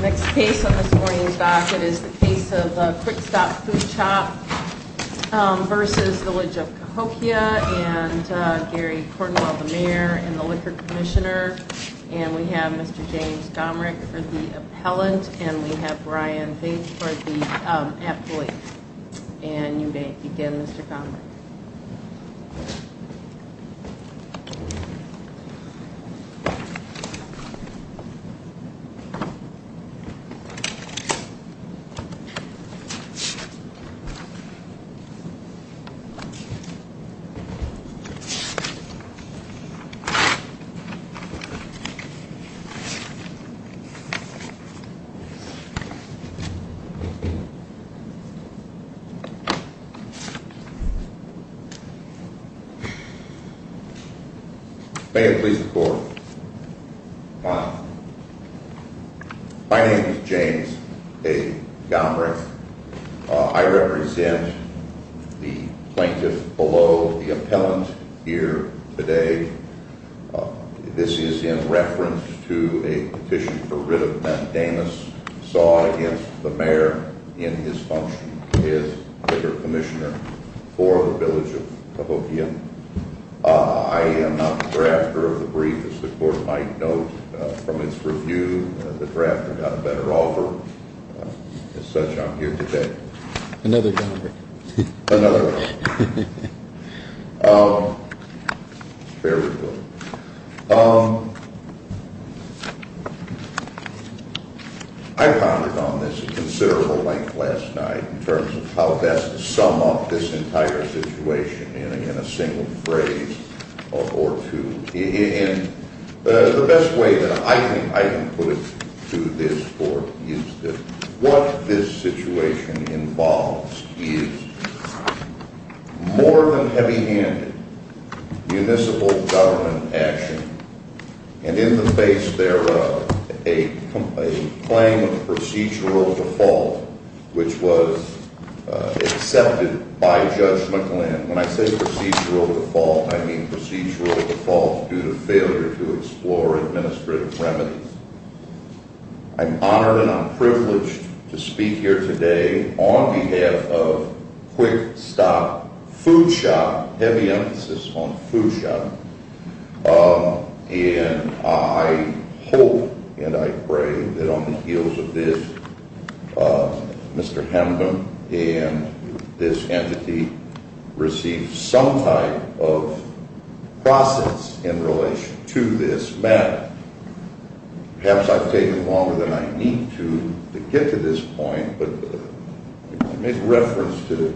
Next case on this morning's docket is the case of Quick Stop Food Shop v. Village of Cahokia and Gary Cordenwell, the Mayor and the Liquor Commissioner and we have Mr. James Gomrich for the appellant and we have Brian Bates for the appellate and you may begin Mr. Gomrich. Mr. Gomrich My name is James A. Gomrich. I represent the plaintiff below the appellant here today. This is in reference to a petition for rid of methamphetamines sought against the Mayor in his function as Liquor Commissioner for the Village of Cahokia. I am not the drafter of the brief as the Court might note from its review. The drafter got a better offer. As such, I'm here today. Another Gomrich. Another Gomrich. Very good. I pondered on this a considerable length last night in terms of how best to sum up this entire situation in a single phrase or two. And the best way that I think I can put it to this Court is that what this situation involves is more than heavy handed municipal government action and in the face thereof a claim of procedural default which was accepted by Judge McLennan. And when I say procedural default, I mean procedural default due to failure to explore administrative remedies. I'm honored and I'm privileged to speak here today on behalf of Quick Stop Food Shop, heavy emphasis on food shop. And I hope and I pray that on the heels of this, Mr. Hemden and this entity receive some type of process in relation to this matter. Perhaps I've taken longer than I need to to get to this point, but I make reference to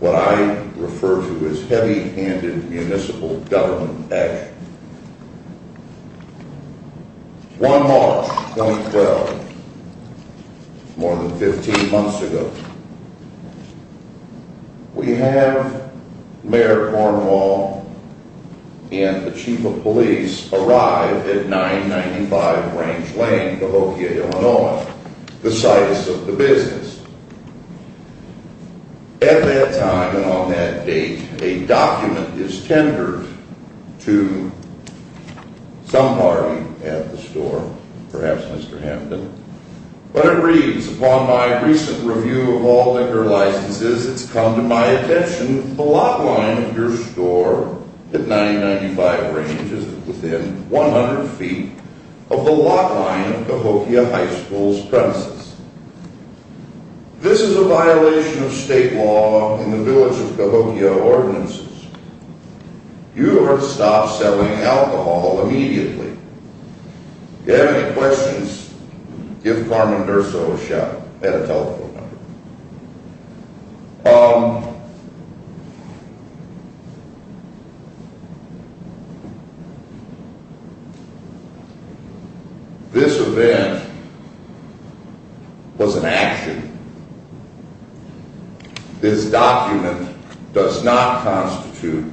what I refer to as heavy handed municipal government action. One March 2012, more than 15 months ago, we have Mayor Cornwall and the Chief of Police arrive at 995 Range Lane, Cahokia, Illinois. This is about the size of the business. At that time and on that date, a document is tendered to some party at the store, perhaps Mr. Hemden, but it reads, upon my recent review of all liquor licenses, it's come to my attention the lot line of your store at 995 Range is within 100 feet of the lot line of Cahokia High School's premises. This is a violation of state law in the village of Cahokia ordinances. You are to stop selling alcohol immediately. If you have any questions, give Carmen Durso a shout at a telephone number. This event was an action. This document does not constitute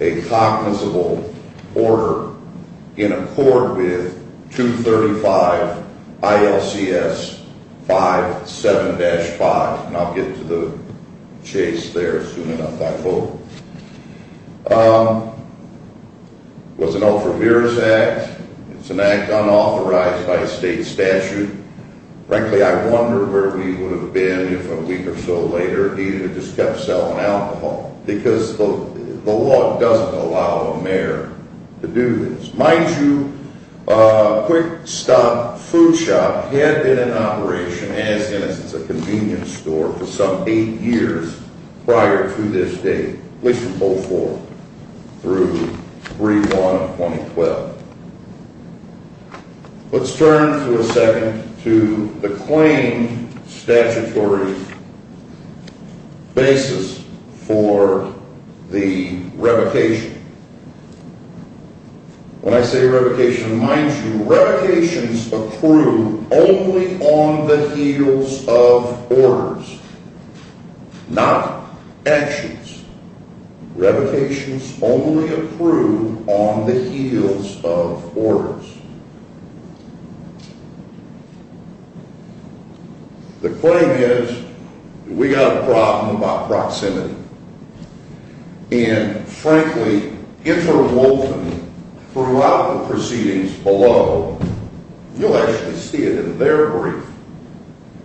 a cognizable order in accord with 235 ILCS 57-5. And I'll get to the chase there soon enough, I hope. It was an Alfred Mears act. It's an act unauthorized by state statute. Frankly, I wonder where we would have been if a week or so later he had just kept selling alcohol because the law doesn't allow a mayor to do this. Mind you, Quick Stop Food Shop had been in operation as a convenience store for some eight years prior to this date, at least from 2004 through 3-1-2012. Let's turn for a second to the claimed statutory basis for the revocation. When I say revocation, mind you, revocations accrue only on the heels of orders, not actions. Revocations only accrue on the heels of orders. The claim is that we got a problem about proximity. And frankly, interwoven throughout the proceedings below, you'll actually see it in their brief,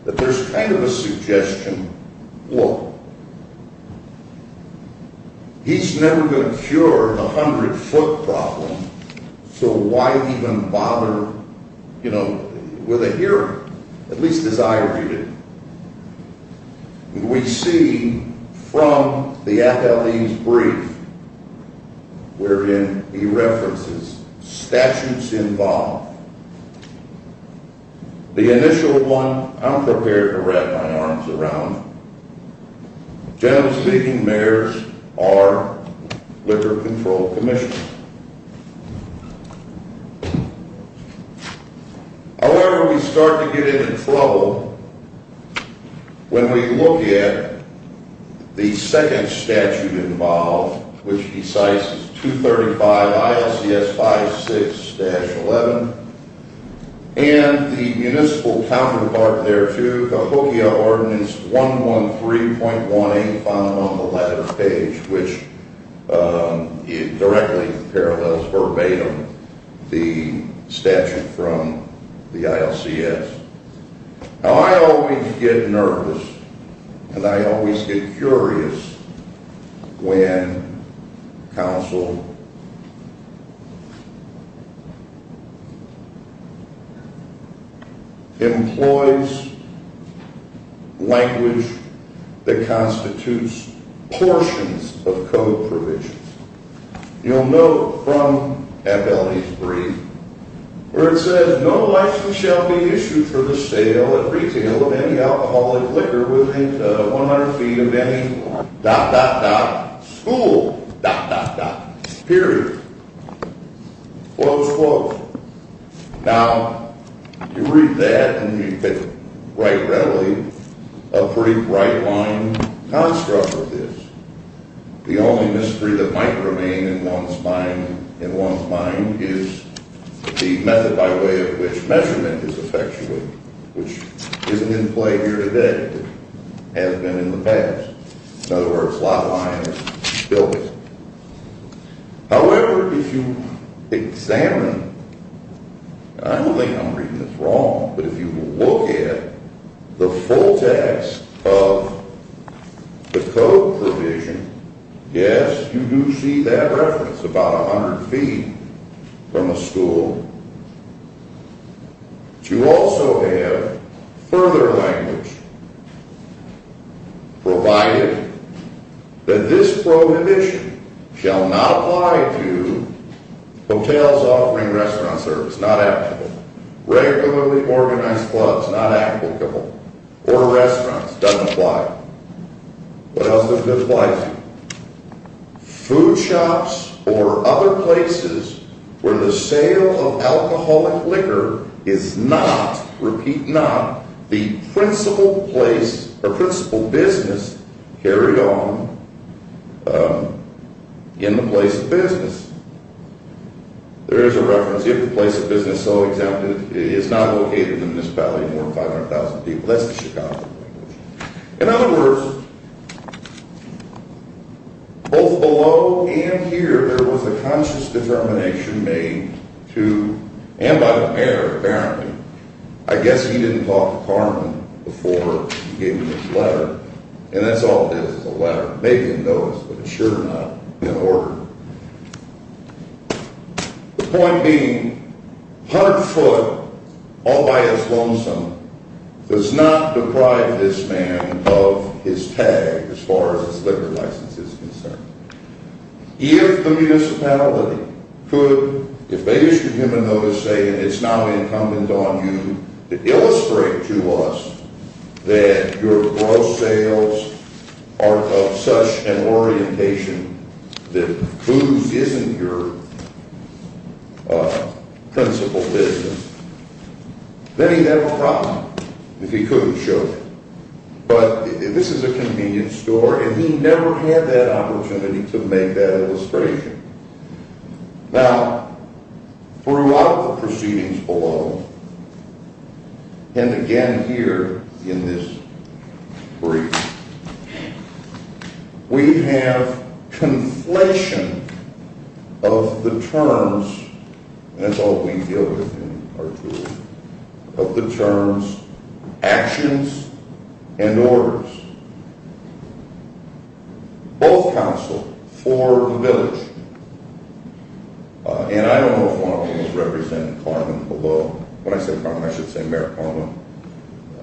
that there's kind of a suggestion, look, he's never going to cure a 100-foot problem, so why even bother, you know, with a hearing? At least as I argued it. We see from the FLE's brief, wherein he references statutes involved, the initial one, I'm prepared to wrap my arms around it, generally speaking, mayors are liquor control commissioners. However, we start to get into trouble when we look at the second statute involved, which he cites as 235 ILCS 56-11, and the municipal counterpart there too, Cahokia Ordinance 113.18, which you'll find on the latter page, which directly parallels verbatim the statute from the ILCS. Now, I always get nervous, and I always get curious, when counsel employs language that constitutes portions of code provisions. You'll note from FLE's brief, where it says, that no license shall be issued for the sale and retail of any alcoholic liquor within 100 feet of any dot, dot, dot, school, dot, dot, dot, period. Close quote. Now, you read that, and you can write readily, a pretty bright-line construct of this. The only mystery that might remain in one's mind is the method by way of which measurement is effectuated, which isn't in play here today, but has been in the past. In other words, lot line is built. However, if you examine, and I don't think I'm reading this wrong, but if you look at the full text of the code provision, yes, you do see that reference, about 100 feet from a school. But you also have further language, provided that this prohibition shall not apply to hotels offering restaurant service, not applicable. Regularly organized clubs, not applicable. Or restaurants, doesn't apply. What else doesn't apply to you? Food shops or other places where the sale of alcoholic liquor is not, repeat not, the principal place or principal business, carry on in the place of business. There is a reference, if the place of business so exempted is not located in the municipality more than 500,000 people. That's the Chicago language. In other words, both below and here, there was a conscious determination made to, and by the mayor, apparently. I guess he didn't talk to Carmen before he gave me this letter. And that's all it is, is a letter. Maybe he didn't know this, but it's sure not in order. The point being, 100 foot, all by his lonesome, does not deprive this man of his tag, as far as his liquor license is concerned. If the municipality could, if they issued him a notice saying it's now incumbent on you to illustrate to us that your gross sales are of such an orientation that booze isn't your principal business, then he'd have a problem if he couldn't show it. But this is a convenience store, and he never had that opportunity to make that illustration. Now, throughout the proceedings below, and again here in this brief, we have conflation of the terms, and that's all we deal with in our jury, of the terms actions and orders. Both counsel for the village, and I don't know if one of them is representing Carmen below. When I say Carmen, I should say Mayor Carmen,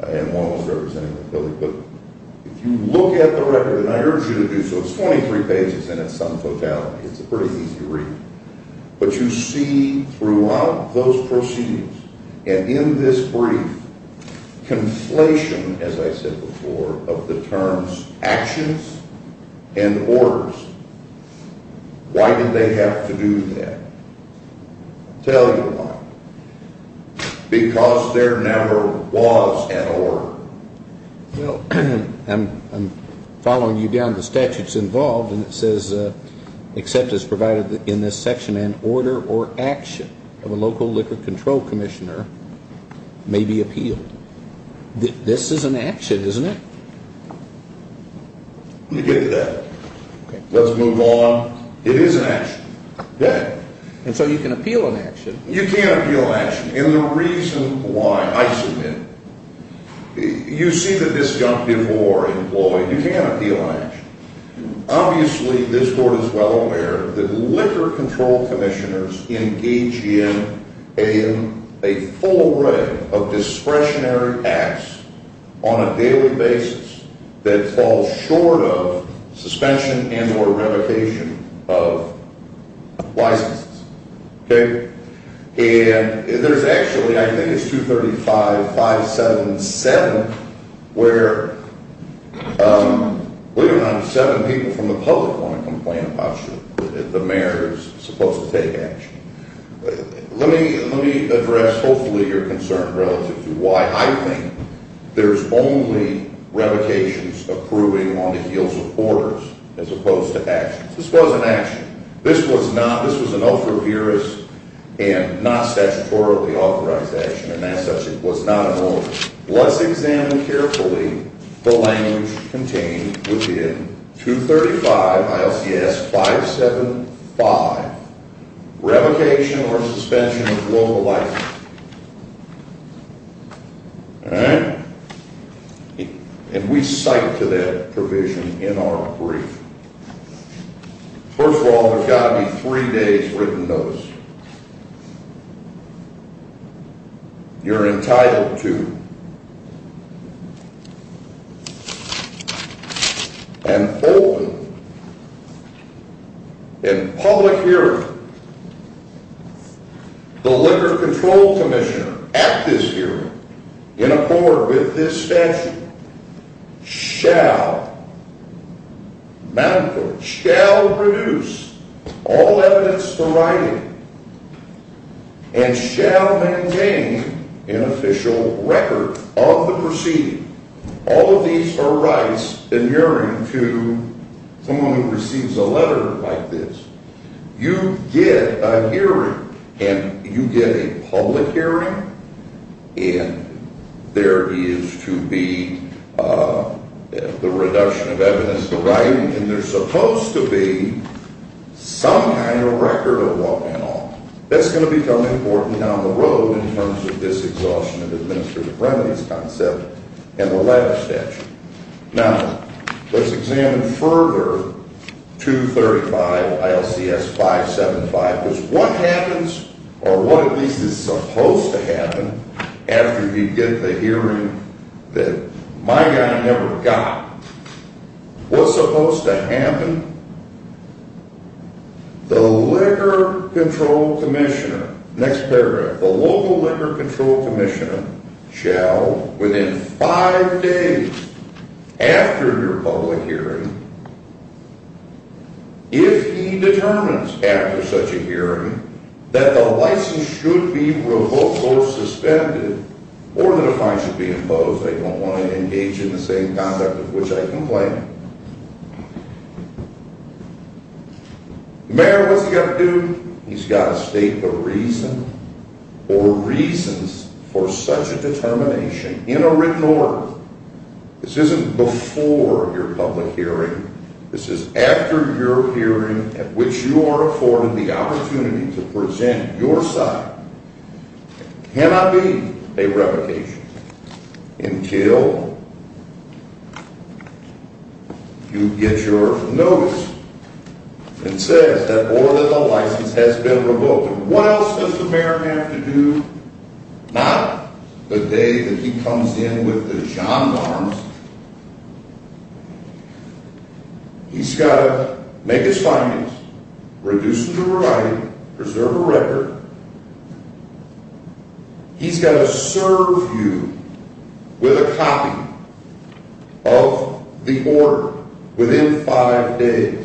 and one was representing the village. But if you look at the record, and I urge you to do so, it's 23 pages in its sum totality. It's a pretty easy read. But you see throughout those proceedings, and in this brief, conflation, as I said before, of the terms actions and orders. Why did they have to do that? I'll tell you why. Because there never was an order. Well, I'm following you down to the statutes involved, and it says, except as provided in this section, an order or action of a local liquor control commissioner may be appealed. This is an action, isn't it? Let me get to that. Let's move on. It is an action. Good. And so you can appeal an action. You can appeal an action. And the reason why, I submit, you see that this got before employed. You can appeal an action. Obviously, this board is well aware that liquor control commissioners engage in a full array of discretionary acts on a daily basis that falls short of suspension and or revocation of licenses. Okay? And there's actually, I think it's 235-577, where we don't have seven people from the public want to complain about the mayor who's supposed to take action. Let me address, hopefully, your concern relative to why I think there's only revocations approving on the heels of orders as opposed to actions. This wasn't action. This was not. This was an overbearing and not statutorily authorized action, and as such, it was not an order. Let's examine carefully the language contained within 235 ILCS 575, revocation or suspension of local licenses. All right? And we cite to that provision in our brief. First of all, there's got to be three days written notice. You're entitled to. And open. In public hearing. The liquor control commissioner at this hearing in accord with this statute. Shall. Shall reduce all evidence for writing. And shall maintain an official record of the proceeding. All of these are rights adhering to someone who receives a letter like this. You get a hearing and you get a public hearing. And there is to be the reduction of evidence for writing. And there's supposed to be some kind of record of what went on. That's going to become important down the road in terms of this exhaustion of administrative remedies concept. And the last statute. Now, let's examine further 235 ILCS 575. Because what happens, or what at least is supposed to happen after you get the hearing that my guy never got. What's supposed to happen? The liquor control commissioner. Next paragraph. The local liquor control commissioner shall within five days after your public hearing. If he determines after such a hearing that the license should be revoked or suspended. Or that a fine should be imposed. I don't want to engage in the same conduct of which I complain. Mayor, what's he got to do? He's got to state the reason. Or reasons for such a determination in a written order. This isn't before your public hearing. This is after your hearing at which you are afforded the opportunity to present your side. Cannot be a revocation. Until. You get your notice. And says that or that the license has been revoked. What else does the mayor have to do? Not the day that he comes in with the gendarmes. He's got to make his findings. Reduce them to variety. Preserve a record. He's got to serve you with a copy of the order. Within five days.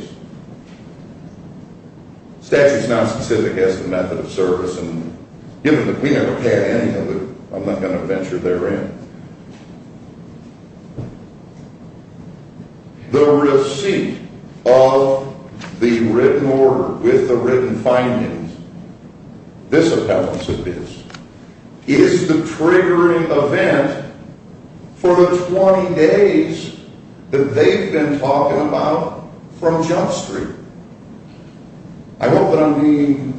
Statute is not specific as to the method of service. We never had any of it. I'm not going to venture therein. The receipt of the written order with the written findings. This appellants of his. Is the triggering event. For the 20 days. That they've been talking about. From Jump Street. I hope that I'm being.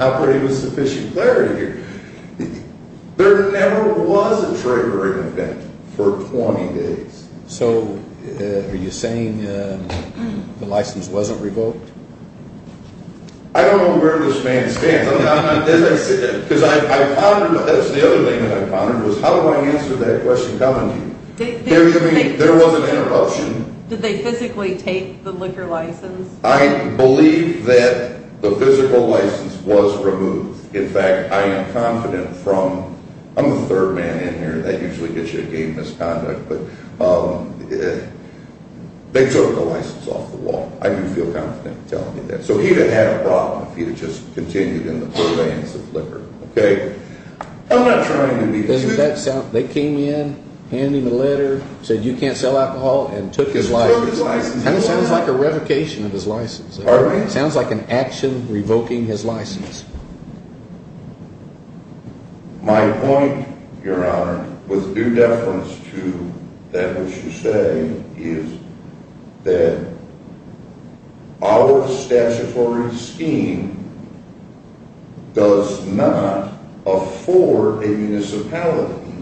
Operated with sufficient clarity. There never was a triggering event. For 20 days. So. Are you saying. The license wasn't revoked. I don't know where this man stands. Because I found. How do I answer that question? There was an interruption. Did they physically take the liquor license? I believe that the physical license was removed. In fact, I am confident from. I'm the third man in here. That usually gets you a game misconduct. But. They took the license off the wall. I do feel confident. So he had a problem. He just continued in the. Okay. I'm not trying to be. They came in. Handing a letter. Said you can't sell alcohol. And took his license. Sounds like a revocation of his license. Sounds like an action revoking his license. My point. Your honor. With due deference to. That which you say. Is. That. Our statutory scheme. Does not. Afford a municipality.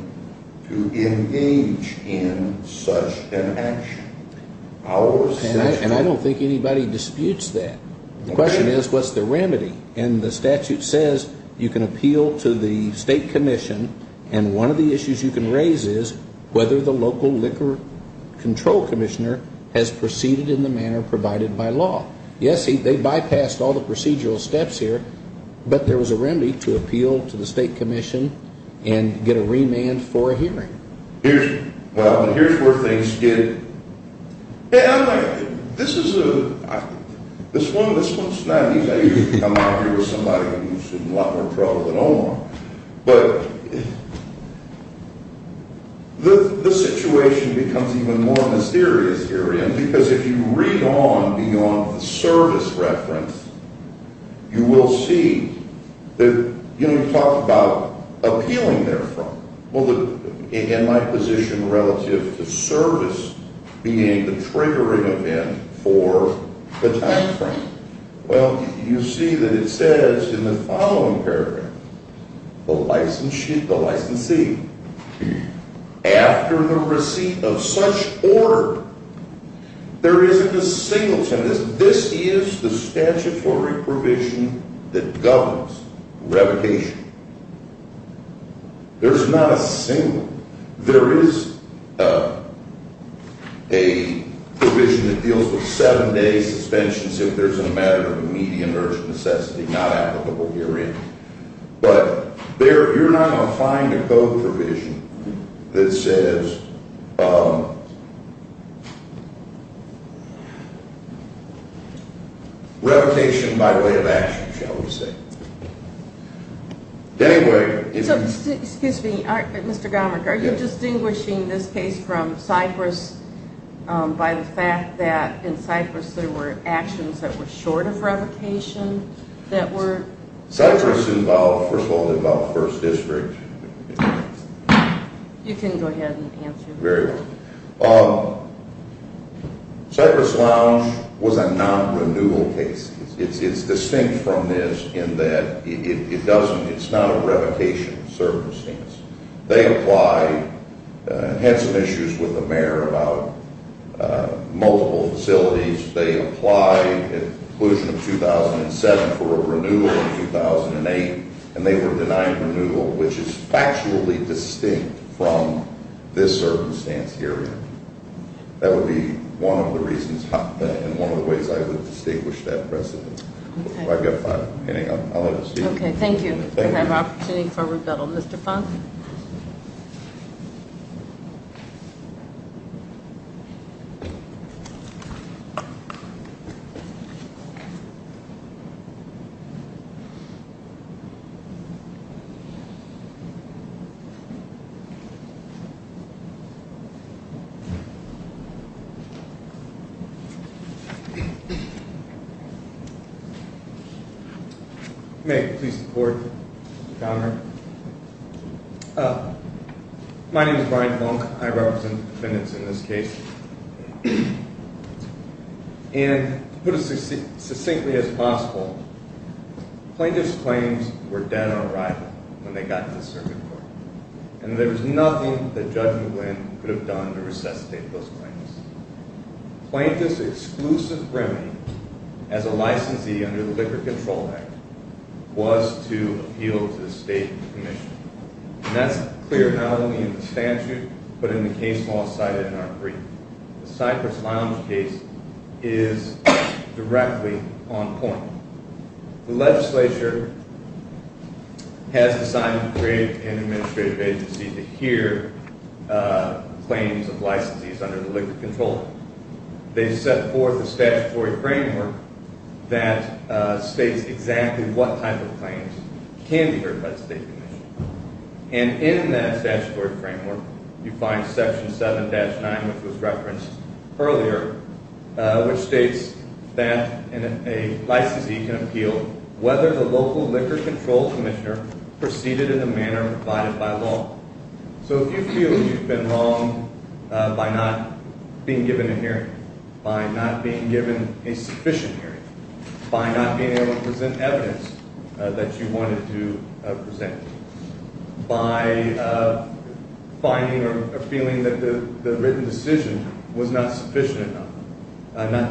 To engage. In such an action. Our. And I don't think anybody disputes that. The question is, what's the remedy? And the statute says. You can appeal to the state commission. And one of the issues you can raise is. Whether the local liquor. Control commissioner. Has proceeded in the manner provided by law. Yes, they bypassed all the procedural steps here. But there was a remedy to appeal to the state commission. And get a remand for a hearing. Here's. Well, here's where things get. Yeah. This is a. This one. This one's not. I'm not here with somebody. Who's in a lot more trouble than Omar. But. The situation. Becomes even more mysterious. Because if you read on. Beyond the service reference. You will see. That, you know, talk about. Appealing there from. Well, the in my position. Relative to service. Being the triggering event. For the time frame. Well, you see that it says. In the following paragraph. The license sheet. The licensee. After the receipt. Of such order. There is a single. This is the statute. For reprovision. That governs. Revocation. There's not a single. There is. A. Provision that deals with. Seven day suspensions. If there's a matter of. Medium urge necessity. Not applicable here in. But there. You're not going to find a code provision. That says. Revocation. By way of action. Anyway. Excuse me. Mr. Garmick. Are you distinguishing. This case from Cypress. By the fact that. In Cypress there were actions. That were short of revocation. That were. Cypress involved. First of all. Involved first district. You can go ahead. Was a non-renewal case. It's distinct from this. In that it doesn't. It's not a revocation. They apply. And had some issues with the mayor. About. Multiple facilities. They apply. Inclusion of 2007. For a renewal in 2008. And they were denied renewal. Which is factually distinct. From this circumstance here. That would be. One of the ways I would. Distinguish that precedent. I've got five. Okay. Thank you. Thank you. Opportunity for rebuttal. Mr. Funk. May. Please. Support. My. Name is Brian. I represent. In this case. And. Put. Succinctly. As. Possible. Plaintiff's. Claims. Were. Nothing. That judge. Could have done. To resuscitate those. Plaintiff's. Exclusive. Branch. Of the. City. Of the. City. As a. Licensee. Under the. Liquor. Control. Act. Was. Appeal. To the. State. Commission. And that's. Clear. Not only. In the statute. But in the case. Law. Cited. In our brief. The Cypress. Lounge. Case. Is. Directly. On point. The legislature. Has. An assignment. To create. An administrative. To hear. Claims. Of. Licensees. Under the. Liquor. Control. They. Set forth. A statutory. Framework. That. States. Exactly. What type. Of. Claims. Can be. Heard. By the. State. Commission. And in that. Statutory. Framework. You find. Section. Seven. Dash. Nine. Which was referenced. Earlier. Which states. That. In a. Licensee. Can appeal. Whether the local. Liquor. Control. Commissioner. Proceeded. In the manner. Provided by law. So. If you feel. You've been wrong. By not. Being given. A hearing. By not. Being given. A sufficient. Hearing. By not. Being able. To present. Evidence. That you wanted. To. Present. By. A feeling. That the. Written. Decision. Was not. Sufficient. Not.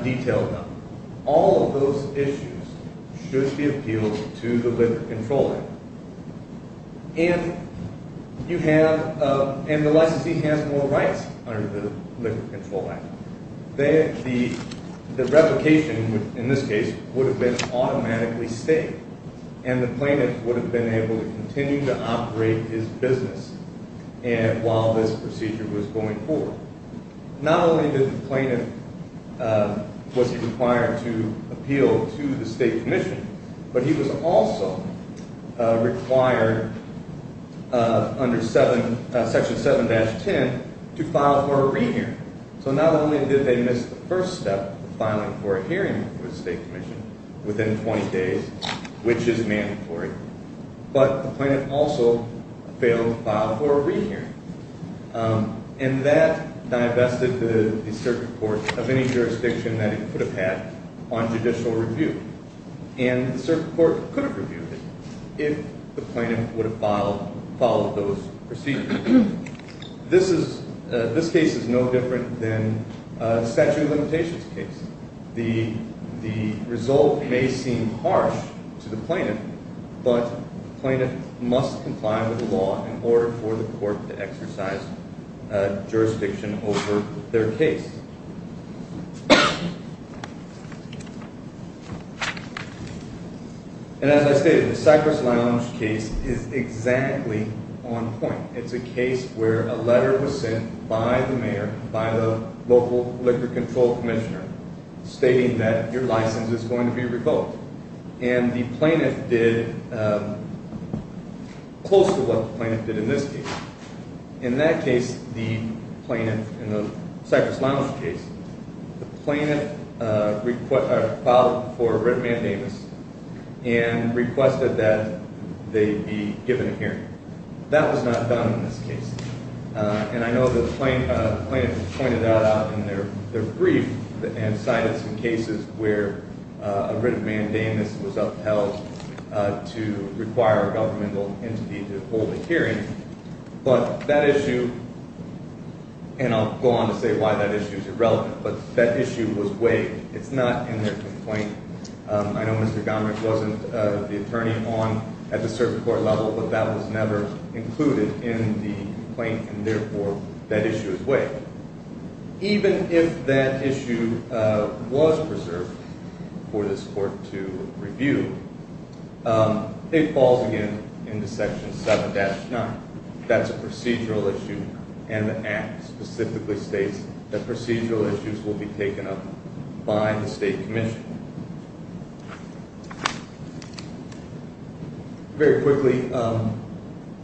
Detailed. All. Of those. Issues. Should. Be appealed. To the. Liquor. Control. Act. And. You have. And the licensee. Has more. Rights. Under the. Liquor. Control. Act. Then. The. Replication. In this case. Would have been. Automatically. Stayed. And the plaintiff. Would have been able. To continue. To operate. His business. And while. This procedure. Was going. Forward. Not only. Did the plaintiff. Was he required. To appeal. To the state. Commission. But he was also. Required. Under. Seven. Section. Seven. Dash. Ten. To file. For a. Rehearing. So not only. Did they miss. The first step. Of filing. For a hearing. With the state. Commission. Within 20 days. Which is mandatory. But the plaintiff. Also. Failed. To file. For a. Rehearing. And that. Divested. The circuit court. Of any jurisdiction. That it could have had. On judicial review. And the circuit court. Could have reviewed it. If the plaintiff. Would have filed. Followed those. Procedures. This is. This case. Is no different. Than. A statute of limitations. Case. The. The result. May seem. Harsh. To the plaintiff. But. The plaintiff. Must comply. With the law. In order. For the court. To exercise. Jurisdiction. Over. Their case. And. As I stated. The Cypress. Lounge. Case. Is. Exactly. On point. It's a case. Where. A letter. Was sent. By the mayor. By the. Local. Liquor. Control. Commissioner. Stating that. Your license. Is going to be revoked. And the plaintiff. Did. Close to what. The plaintiff. Did in this case. In that case. The. Plaintiff. In the. Cypress. Lounge. Case. The plaintiff. Requested. For a written. Mandamus. And requested that. They be. Given. A hearing. That was not done. In this case. And I know. The plaintiff. Pointed that out. In their. Brief. And cited. Some cases. Where. A written. Mandamus. Was upheld. To require. A governmental. Entity. To hold a hearing. But. That issue. And I'll. Go on. To say why. That issue. Is irrelevant. But that issue. Was waived. It's not. In their. Complaint. I know. Mr. Gomrich. Wasn't. The attorney. On. At the. Circuit court. Level. But that. Was never. Included. In the. Plaintiff. Therefore. That issue. Is waived. Even. If. That issue. Was. Preserved. For this court. To. Review. It falls. Again. Into section. Seven dash. Nine. That's a procedural. Issue. And the act. Specifically states. That procedural. Issues will be taken up. By the state. Commission. Very. Quickly.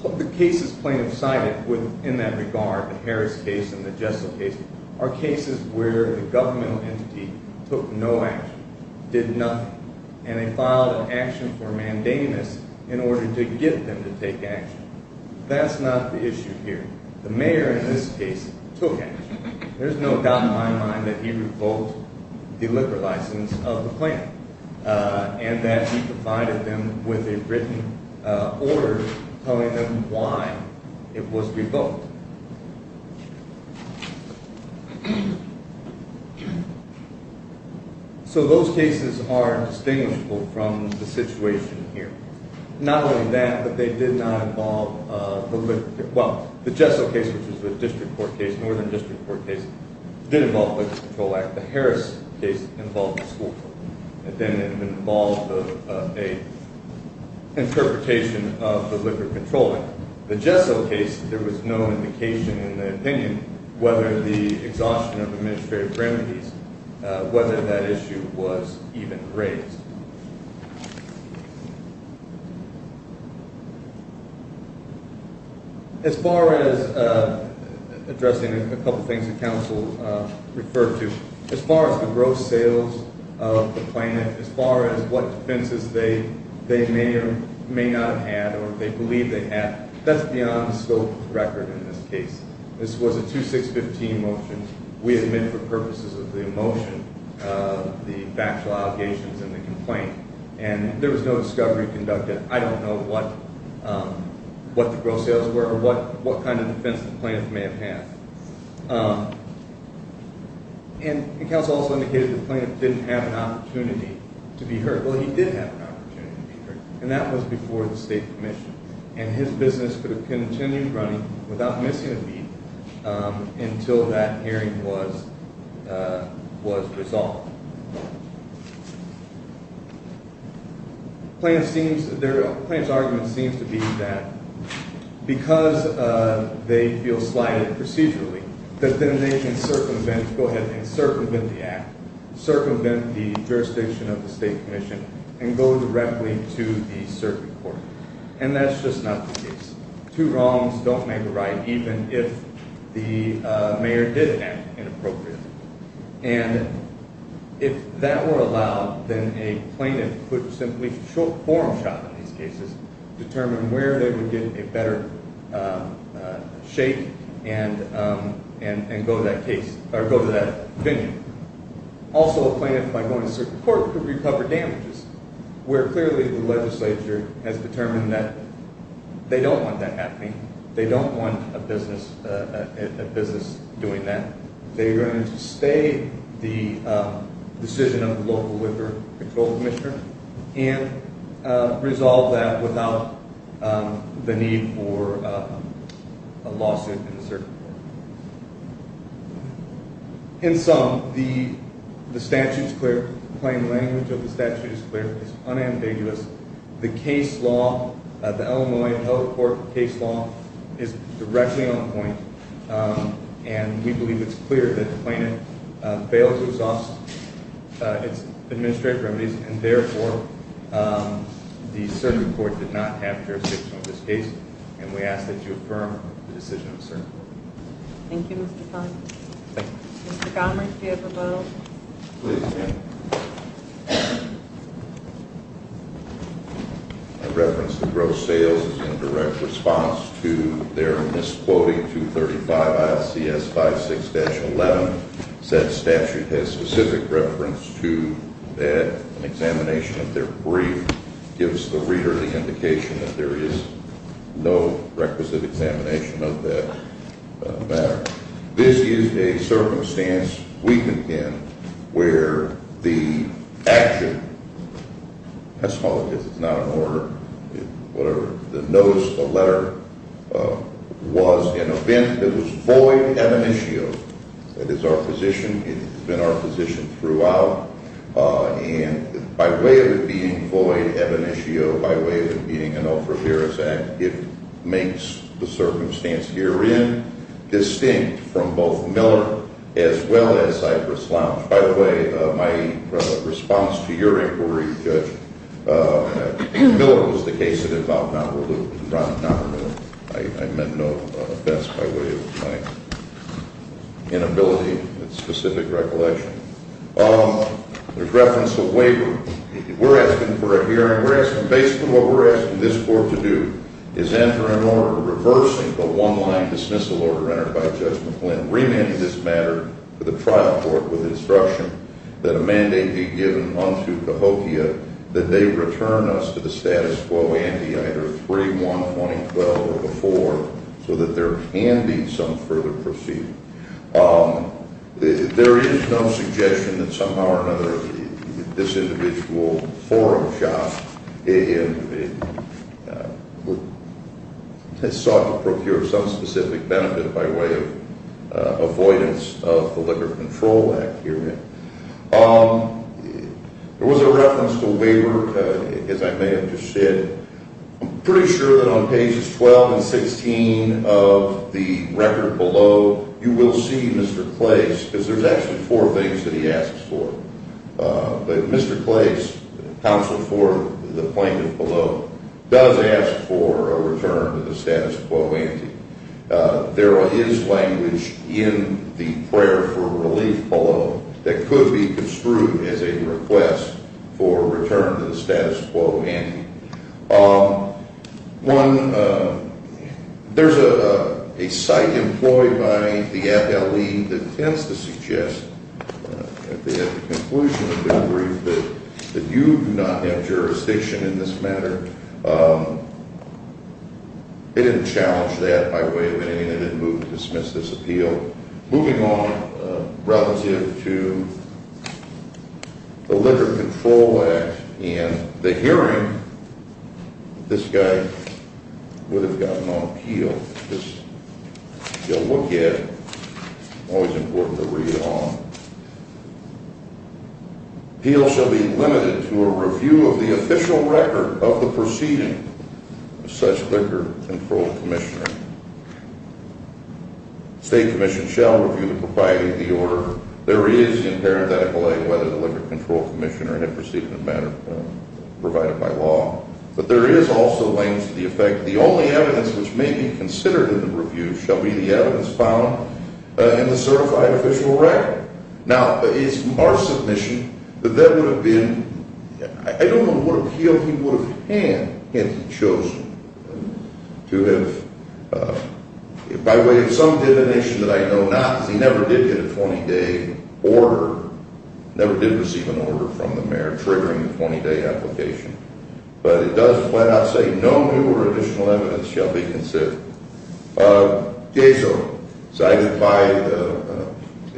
Put the. Cases. Plaintiff. Cited. With. In that regard. The Harris. Case. And the. Jessel. Case. Are cases. Where. The governmental. Entity. Took. No. Action. Did. Nothing. And they filed. An action. For mandamus. In order. To get them. To take action. That's not. The issue here. The mayor. In this case. Took action. There's no doubt. In my mind. That he. Revoked. The liquor license. Of the plant. And that he. Provided them. With a written. Order. Telling them why. It was revoked. So. Those. Cases. Are. Distinguishable. From. The situation. Here. Not only. That. But they did not. Involve. Well. The Jessel. Case. Which is the district. Court. Case. Northern district. Court. Case. Which. Did involve. Control. Act. The Harris. Case. Involved. Involved. A. Interpretation. Of the liquor. Control. Act. The Jessel. Case. There was no indication. In the opinion. Whether the. Exhaustion. Of administrative remedies. Whether. That issue. Was. Even. Raised. As far. As. Addressing. A couple. Things. The council. Referred. To. As far. As the gross. Sales. Of the planet. As far. As what. Defenses. They. They may or. May not. Have. Or. They believe. They have. That's beyond. The scope. Of the record. In this case. This was. A two six. Fifteen. Motion. We admit. For purposes. Of the emotion. The factual. Allegations. And the complaint. And there was. No discovery. Conducted. I don't know. What. What the gross. Sales were. Or what. What kind. Of defense. The planet. May have had. And. The council. Also indicated. The planet. Didn't have. An opportunity. To be heard. Well. He did have. An opportunity. To be heard. And that was before. The state commission. And his business. Continued. Running. Without missing. A beat. Until that hearing. Was. Was. Resolved. Plans. Seems. Their. Plans. Arguments. Seems. To be. That. Because. They feel. Slighted. Procedurally. That then. They can. Circumvent. Go ahead. And circumvent. The act. Circumvent. The jurisdiction. Of the state commission. And go. Directly. To the. Circuit court. And that's. Just not. The case. Two wrongs. Don't make. A right. Even if. The. Mayor. Did that. Inappropriately. And. If. That were. Allowed. Then a. Plaintiff. Could simply. Short form. Shot. In these cases. Determine where. They would get. A better. Shape. And. And. And go. To that case. Or go. To that. Opinion. Also a. Plaintiff. By going to. Circuit court. Could recover. Damages. Where clearly. The legislature. Has determined that. They don't want. That happening. They don't want. A business. A business. Doing that. They are going. To stay. The. Decision of the local. Liquor. Control. Commissioner. And. Resolve that. Without. The need. For. A lawsuit. In. Some. The. The. Statutes. Clear. Plain language. Of the. Statutes. Clear. Unambiguous. The case. Law. The Illinois. Court. Case law. Is. Directly. On point. And. We believe. It's clear. That plaintiff. Failed. To resolve. Its. Administrative. Remedies. And therefore. The circuit. Court. Did not have. Jurisdiction. Of this case. And we ask. That you affirm. The decision of the circuit court. Thank you. Mr. Connery. Mr. Connery. Do you have a vote? Please do. I reference. The gross sales. In direct. Response. To. Their. Misquoting. 235. ISCS. 56-11. That statute. Has specific reference. To that. Examination. Of their. Brief. Gives the reader. The indication. That there is. No requisite. Examination. Of that. Matter. This is a. Circumstance. We can. Where. The. Action. As long. As it's not. An order. Whatever. The notice. The letter. Was. An event. That was. Void. That is our position. It's been our position. Throughout. And. By. Way. Of being. Void. By. Way. Of being. It. Makes. The circumstance. Herein. Distinct. From both. Miller. As well. As. By. The way. My. Response. To your. Inquiry. Judge. Miller. Was the case. About. Not. I meant. No offense. By. Way. Inability. Specific. Recollection. There's reference. A waiver. We're. Asking. For a hearing. We're. Asking. Basically. What we're. Asking. This board. To do. Is enter. An order. Reversing. The one. Line dismissal. Order. Entered. By. Suspends. This matter. The Trump. With instruction. That amending. A given on. You. That they will. To the stand. For the four. Year. And these I'll for the receipt. Or involve summary. There is more. For defense. This matter. In general. That I would. Move this. This appeal. Moving on. To. The. The. This. Will. Always. He'll. Be. To a review. Of the official record. For the. Proceeding. Such. A. State. Commission. By. The order. There is. A. Control. Proceed. Provided by. But there is. Also. The effect. The only. Which may be considered. You shall be. Found. In the. Now. Is. Our submission. That that would have been. I don't know. What appeal. And. Chose. To. Have. By way. Of some. That I know. Not. He never did. A. Order. Never did. Receive an order. From the mayor. Triggering the 20. Day application. But it does. Say. No. Additional evidence. Shall be. Considered. By.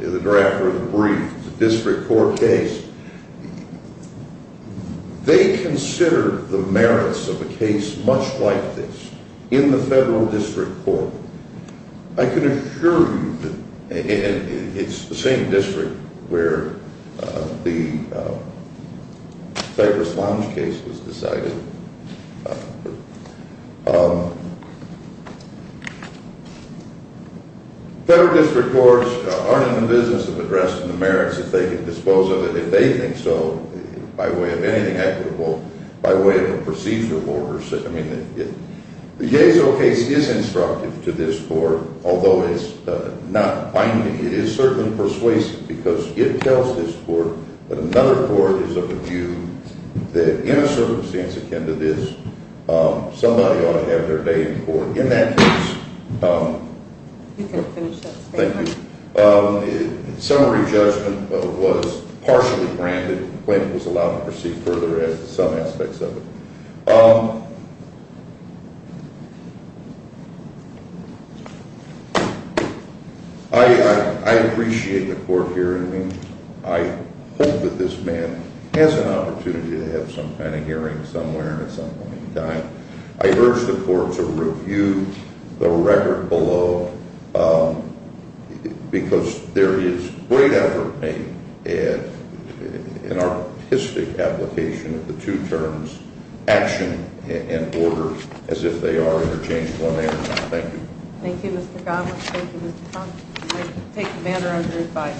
The draft. Brief. District. Court. Case. They. Consider. The merits. Of a case. Much. Like this. In the federal. District. Court. I can. Assure. You. That. It's. The same district. Where. The. Fabric. Lounge case. Was decided. Federal. District. Courts. Are. In the business. Of addressing. The merits. If they can dispose. Of it. If they think so. By way. Of anything. Equitable. By way. Of a procedure. Order. I mean. The case. Is instructive. To this. Court. Although. It's. Not binding. It is certain. Persuasion. Because. It tells. This. Court. That another. Court. Is of a view. That. In a circumstance. Akin. To this. Somebody. In that. Thank you. Summary. Was. Partially. Granted. When. It was allowed. To proceed. Further. As. Some aspects. Of it. I. Appreciate. The. Court. Hearing. I. Hope. That this man. Has an opportunity. To have some kind. Of hearing. Somewhere. At some point. In time. I urge. The court. To review. The record. Below. Because. There is. Great effort. Made. In our. Application. Of the two. Terms. Action. And orders. As if they are. Interchanged. Thank you. Thank you. Mr. Godwin. Thank you. Mr. Thompson. I take. Commander. Under.